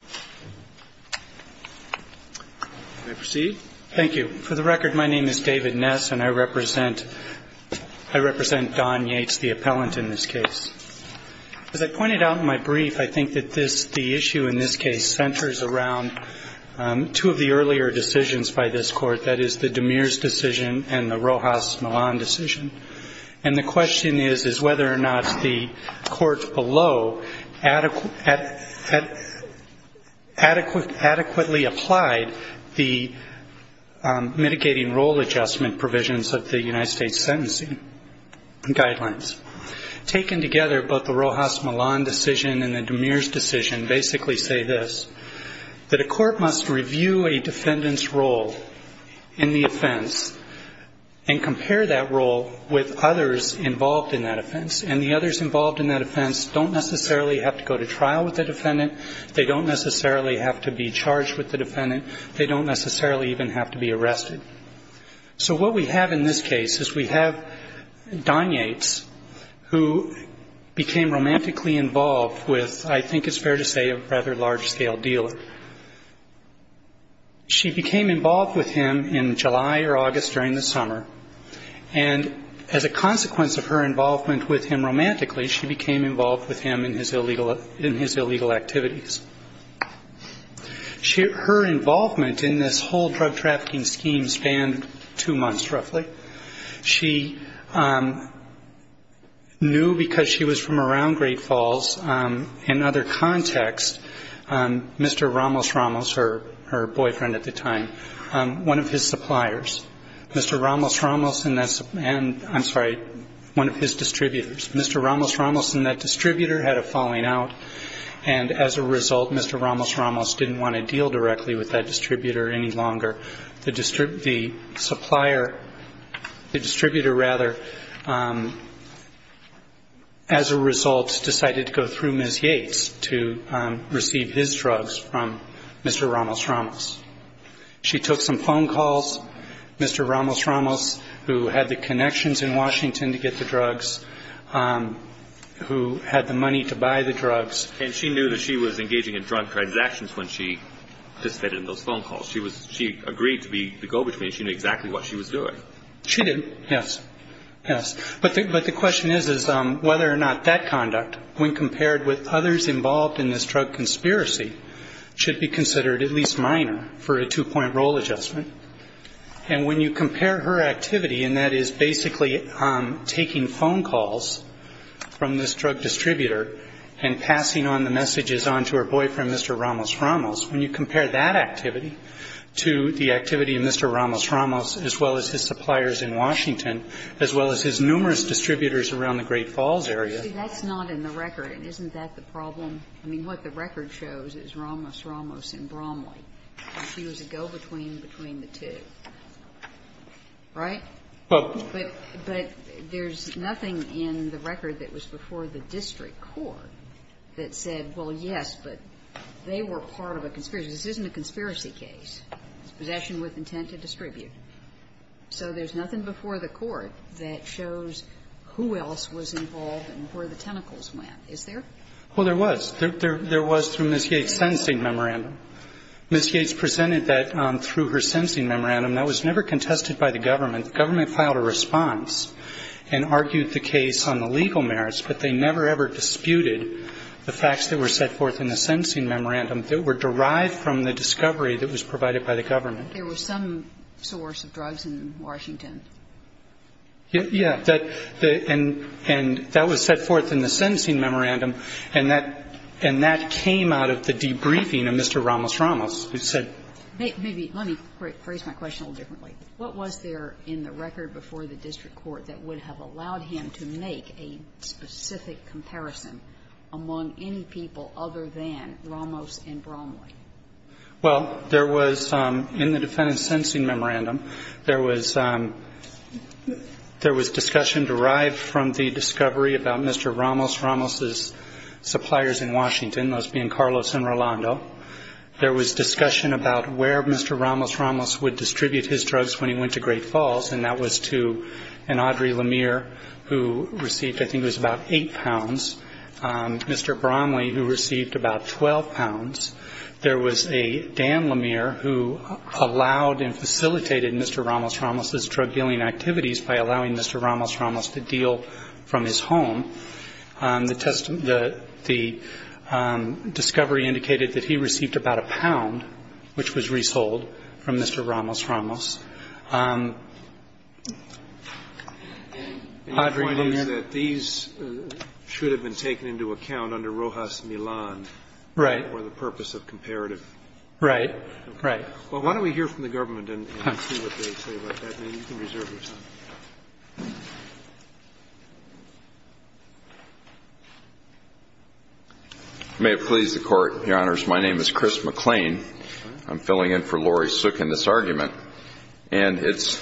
the appellant in this case. As I pointed out in my brief, I think that this, the issue in this case, centers around two of the earlier decisions by this Court, that is, the DeMeers decision and the Rojas-Milan decision. And the question is, is whether or not the Court below adequate, adequate, adequate, adequate, adequate, adequate, adequately applied the mitigating role adjustment provisions of the United States sentencing guidelines. Taken together, both the Rojas-Milan decision and the DeMeers decision basically say this, that a court must review a defendant's role in the offense and compare that role with others involved in that offense. And the others involved in that offense don't necessarily have to go to trial with the defendant, they don't necessarily have to be charged with the defendant, they don't necessarily even have to be arrested. So what we have in this case is we have Don Yates, who became romantically involved with, I think it's fair to say, a rather large-scale dealer. She became involved with him in July or August during the summer, and as a result of that romantically, she became involved with him in his illegal activities. Her involvement in this whole drug trafficking scheme spanned two months roughly. She knew because she was from around Great Falls, in other context, Mr. Ramos-Ramos, her boyfriend at the time, one of his suppliers. Mr. Ramos-Ramos and that's distributor had a falling out, and as a result, Mr. Ramos-Ramos didn't want to deal directly with that distributor any longer. The supplier, the distributor rather, as a result decided to go through Ms. Yates to receive his drugs from Mr. Ramos-Ramos. She took some phone calls. Mr. Ramos-Ramos, who had the connection in Washington to get the drugs, who had the money to buy the drugs. And she knew that she was engaging in drug transactions when she participated in those phone calls. She agreed to be the go-between. She knew exactly what she was doing. She did, yes, yes. But the question is whether or not that conduct, when compared with others involved in this drug conspiracy, should be considered at least minor for a two-point role adjustment. And when you compare her activity, and that is basically taking phone calls from this drug distributor and passing on the messages on to her boyfriend, Mr. Ramos-Ramos, when you compare that activity to the activity of Mr. Ramos-Ramos, as well as his suppliers in Washington, as well as his numerous distributors around the Great Falls area. That's not in the record. And isn't that the problem? I mean, what the record shows is Ramos-Ramos and Bromley. She was a go-between between the two. Right? But there's nothing in the record that was before the district court that said, well, yes, but they were part of a conspiracy. This isn't a conspiracy case. It's possession with intent to distribute. So there's nothing before the court that shows who else was involved and where the tentacles went. Is there? Well, there was. There was through Ms. Yates' sentencing memorandum. Ms. Yates presented that through her sentencing memorandum. That was never contested by the government. The government filed a response and argued the case on the legal merits, but they never, ever disputed the facts that were set forth in the sentencing memorandum that were derived from the discovery that was provided by the government. There was some source of drugs in Washington. Yeah. And that was set forth in the sentencing memorandum, and that came out of the debriefing of Mr. Ramos-Ramos, who said the same thing. Let me phrase my question a little differently. What was there in the record before the district court that would have allowed him to make a specific comparison among any people other than Ramos and Bromley? Well, there was in the defendant's sentencing memorandum, there was discussion derived from the discovery about Mr. Ramos-Ramos' suppliers in Washington, those being Carlos and Rolando. There was discussion about where Mr. Ramos-Ramos would distribute his drugs when he went to Great Falls, and that was to an Audrey Lemire, who received, I think it was about 12 pounds. There was a Dan Lemire who allowed and facilitated Mr. Ramos-Ramos' drug-dealing activities by allowing Mr. Ramos-Ramos to deal from his home. The discovery indicated that he received about a pound, which was resold from Mr. Ramos-Ramos. My point is that these should have been taken into account under Rojas-Milan or the purpose of comparative. Right. Right. Well, why don't we hear from the government and see what they say about that. Maybe you can reserve your time. May it please the Court, Your Honors. My name is Chris McLean. I'm filling in for Laurie Suk in this argument. And it's,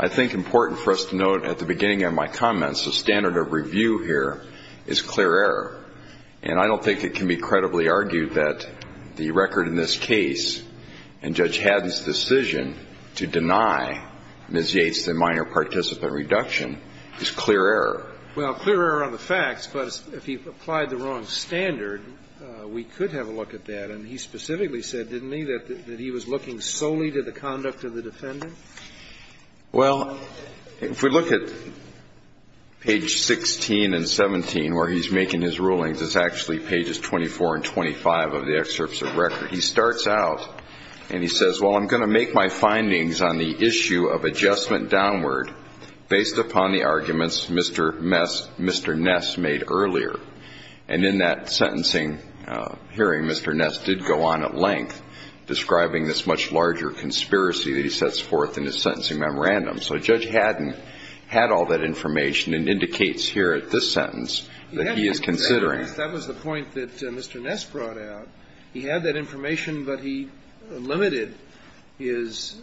I think, important for us to note at the beginning of my comments, the standard of review here is clear error. And I don't think it can be credibly argued that the record in this case and Judge Haddon's decision to deny Ms. Yates the minor participant reduction is clear error. Well, clear error on the facts, but if he applied the wrong standard, we could have a look at that. And he specifically said, didn't he, that he was looking solely to the conduct of the defendant? Well, if we look at page 16 and 17, where he's making his rulings, it's actually pages 24 and 25 of the excerpts of record. He starts out and he says, well, I'm going to make my findings on the issue of adjustment downward based upon the arguments Mr. Ness made earlier. And in that sentencing hearing, Mr. Ness did go on at length, describing this much larger conspiracy that he sets forth in his sentencing memorandum. So Judge Haddon had all that information and indicates here at this sentence that he is considering. He had that information. That was the point that Mr. Ness brought out. He had that information, but he limited his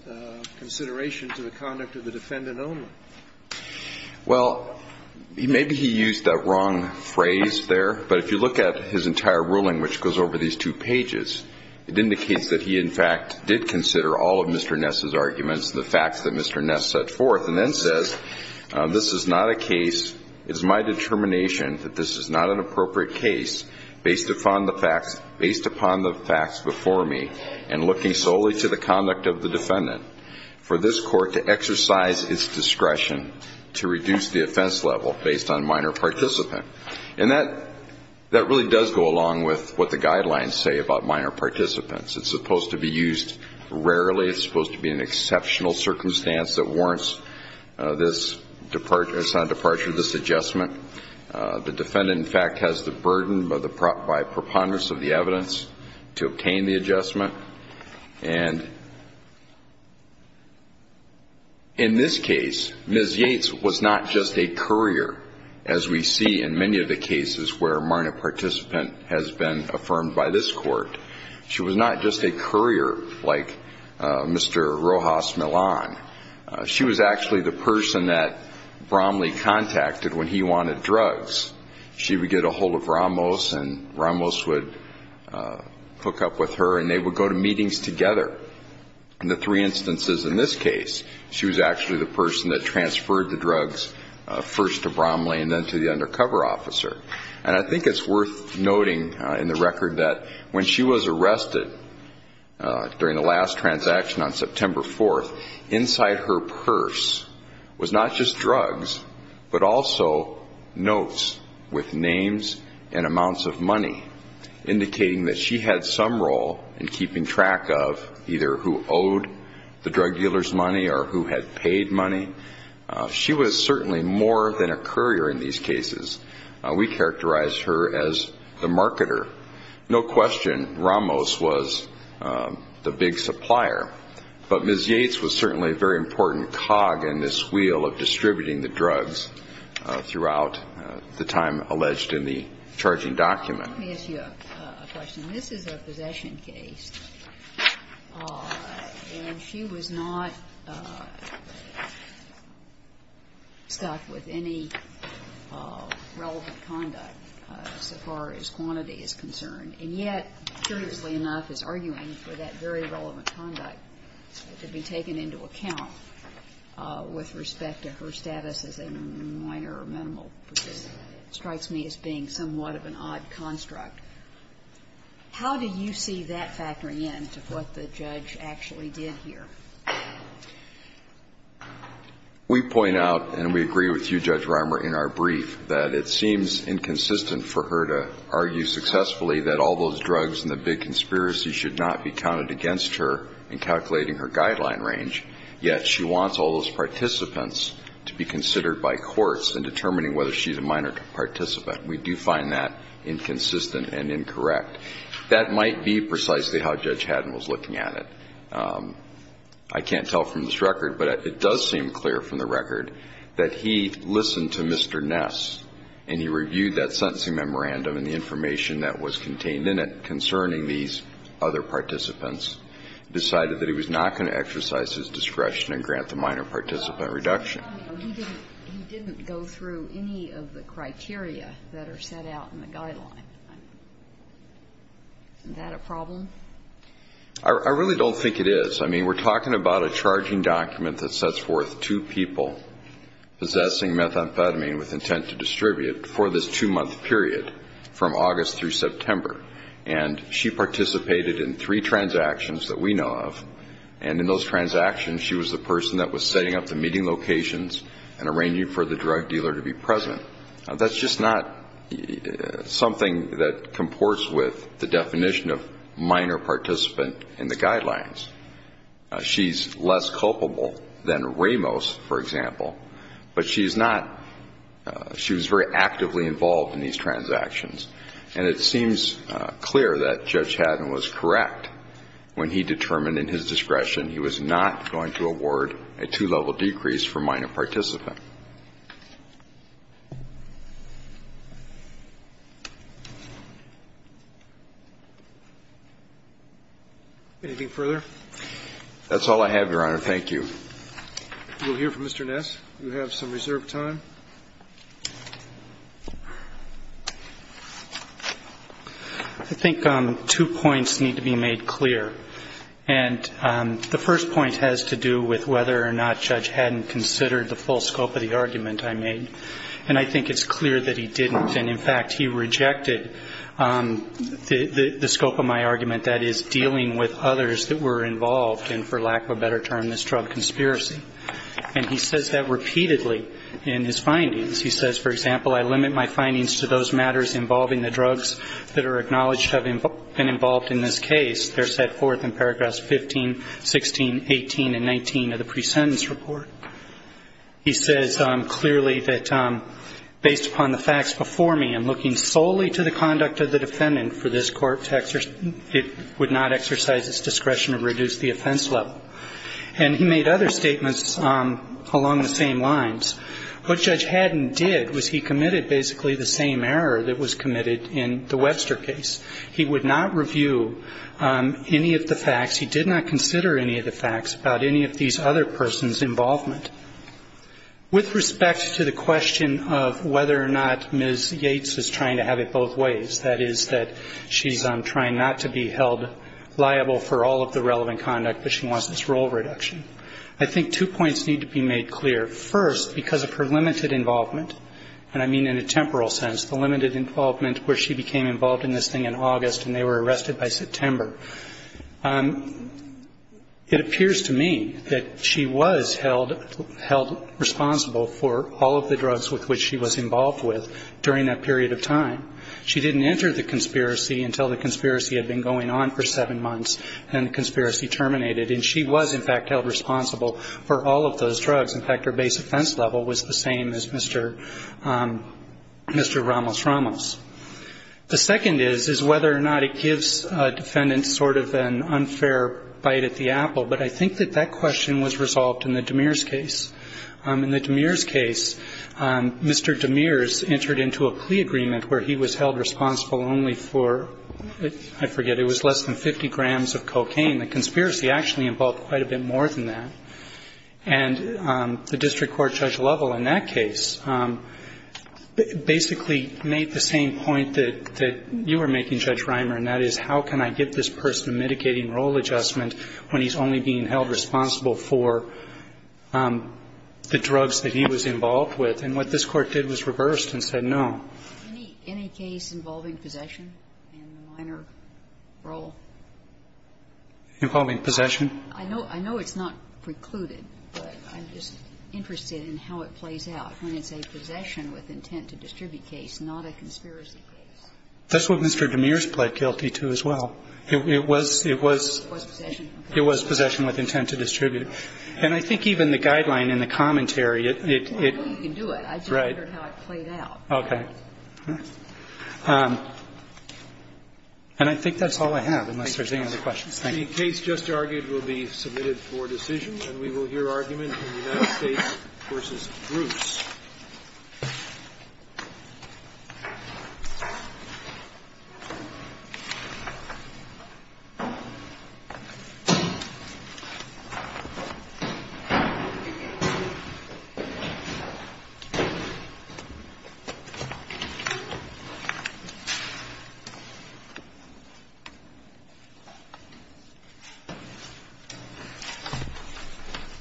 consideration to the conduct of the defendant only. Well, maybe he used that wrong phrase there. But if you look at his entire ruling, which goes over these two pages, it indicates that he, in fact, did consider all of Mr. Ness's arguments, the facts that Mr. Ness set forth, and then says, this is not a case. It's my determination that this is not an appropriate case based upon the facts before me and looking solely to the conduct of the defendant for this Court to exercise its discretion to reduce the offense level based on minor participant. And that really does go along with what the guidelines say about minor participants. It's supposed to be used rarely. It's supposed to be an exceptional circumstance that warrants this departure of this adjustment. The defendant, in fact, has the burden by preponderance of the evidence to obtain the adjustment. And in this case, Ms. Yates was not just a courier, as we see in many of the cases where a minor participant has been affirmed by this Court. She was not just a courier like Mr. Rojas Millan. She was actually the person that Bromley contacted when he wanted drugs. She would get a hold of Ramos, and Ramos would hook up with her, and they would go to meetings together. In the three instances in this case, she was actually the person that transferred the drugs first to Bromley and then to the undercover officer. And I think it's worth noting in the record that when she was arrested during the last transaction on September 4th, inside her purse was not just drugs but also notes with names and amounts of money, indicating that she had some role in keeping track of either who owed the drug dealer's money or who had paid money. She was certainly more than a courier in these cases. We characterize her as the marketer. No question, Ramos was the big supplier. But Ms. Yates was certainly a very important cog in this wheel of distributing the drugs throughout the time alleged in the charging document. Let me ask you a question. This is a possession case, and she was not stuck with any relevant conduct so far as quantity is concerned, and yet, curiously enough, is arguing for that very relevant conduct to be taken into account with respect to her status as a minor or minimal participant. It strikes me as being somewhat of an odd construct. How do you see that factoring in to what the judge actually did here? We point out, and we agree with you, Judge Reimer, in our brief, that it seems inconsistent for her to argue successfully that all those drugs and the big conspiracy should not be counted against her in calculating her guideline range, yet she wants all those participants to be considered by courts in determining whether she's a minor participant. We do find that inconsistent and incorrect. That might be precisely how Judge Haddon was looking at it. I can't tell from this record, but it does seem clear from the record that he listened to Mr. Ness, and he reviewed that sentencing memorandum and the information that was contained in it concerning these other participants, decided that he was not going to exercise his discretion and grant the minor participant reduction. He didn't go through any of the criteria that are set out in the guideline. Isn't that a problem? I really don't think it is. I mean, we're talking about a charging document that sets forth two people possessing methamphetamine with intent to distribute for this two-month period from August through September, and she participated in three transactions that we know of, and in those transactions, she was the person that was setting up the meeting locations and arranging for the drug dealer to be present. That's just not something that comports with the definition of minor participant in the guidelines. She's less culpable than Ramos, for example, but she's not. She was very actively involved in these transactions, and it seems clear that Judge Haddon was correct when he determined in his discretion he was not going to award a two-level decrease for minor participant. Anything further? That's all I have, Your Honor. Thank you. We'll hear from Mr. Ness. You have some reserved time. I think two points need to be made clear, and the first point has to do with whether or not Judge Haddon considered the full scope of the argument I made, and I think it's clear that he didn't. And, in fact, he rejected the scope of my argument, that is, dealing with others that were involved in, for lack of a better term, this drug conspiracy. And he says that repeatedly in his findings. He says, for example, I limit my findings to those matters involving the drugs that are acknowledged to have been involved in this case. They're set forth in paragraphs 15, 16, 18, and 19 of the pre-sentence report. He says clearly that, based upon the facts before me, and looking solely to the conduct of the defendant for this court, it would not exercise its discretion to reduce the offense level. And he made other statements along the same lines. What Judge Haddon did was he committed basically the same error that was committed in the Webster case. He would not review any of the facts. He did not consider any of the facts about any of these other persons' involvement. With respect to the question of whether or not Ms. Yates is trying to have it both ways, that is, that she's trying not to be held liable for all of the relevant conduct, but she wants this role reduction, I think two points need to be made clear. First, because of her limited involvement, and I mean in a temporal sense, the limited involvement where she became involved in this thing in August and they were arrested by September, it appears to me that she was held responsible for all of the drugs with which she was involved with during that period of time. She didn't enter the conspiracy until the conspiracy had been going on for seven months and the conspiracy terminated. And she was, in fact, held responsible for all of those drugs. In fact, her base offense level was the same as Mr. Ramos-Ramos. The second is, is whether or not it gives a defendant sort of an unfair bite at the apple. But I think that that question was resolved in the Demeers case. In the Demeers case, Mr. Demeers entered into a plea agreement where he was held responsible only for, I forget, it was less than 50 grams of cocaine. The conspiracy actually involved quite a bit more than that. And the district court Judge Lovell in that case basically made the same point that you were making, Judge Reimer, and that is, how can I get this person mitigating role adjustment when he's only being held responsible for the drugs that he was involved with? And what this Court did was reversed and said no. Any case involving possession in the minor role? Involving possession? I know it's not precluded, but I'm just interested in how it plays out when it's a possession with intent to distribute case, not a conspiracy case. That's what Mr. Demeers pled guilty to as well. It was, it was, it was possession with intent to distribute. And I think even the guideline in the commentary, it, it, it, right. Okay. And I think that's all I have, unless there's any other questions. Thank you. The case just argued will be submitted for decision, and we will hear argument in the United States v. Bruce. Thank you.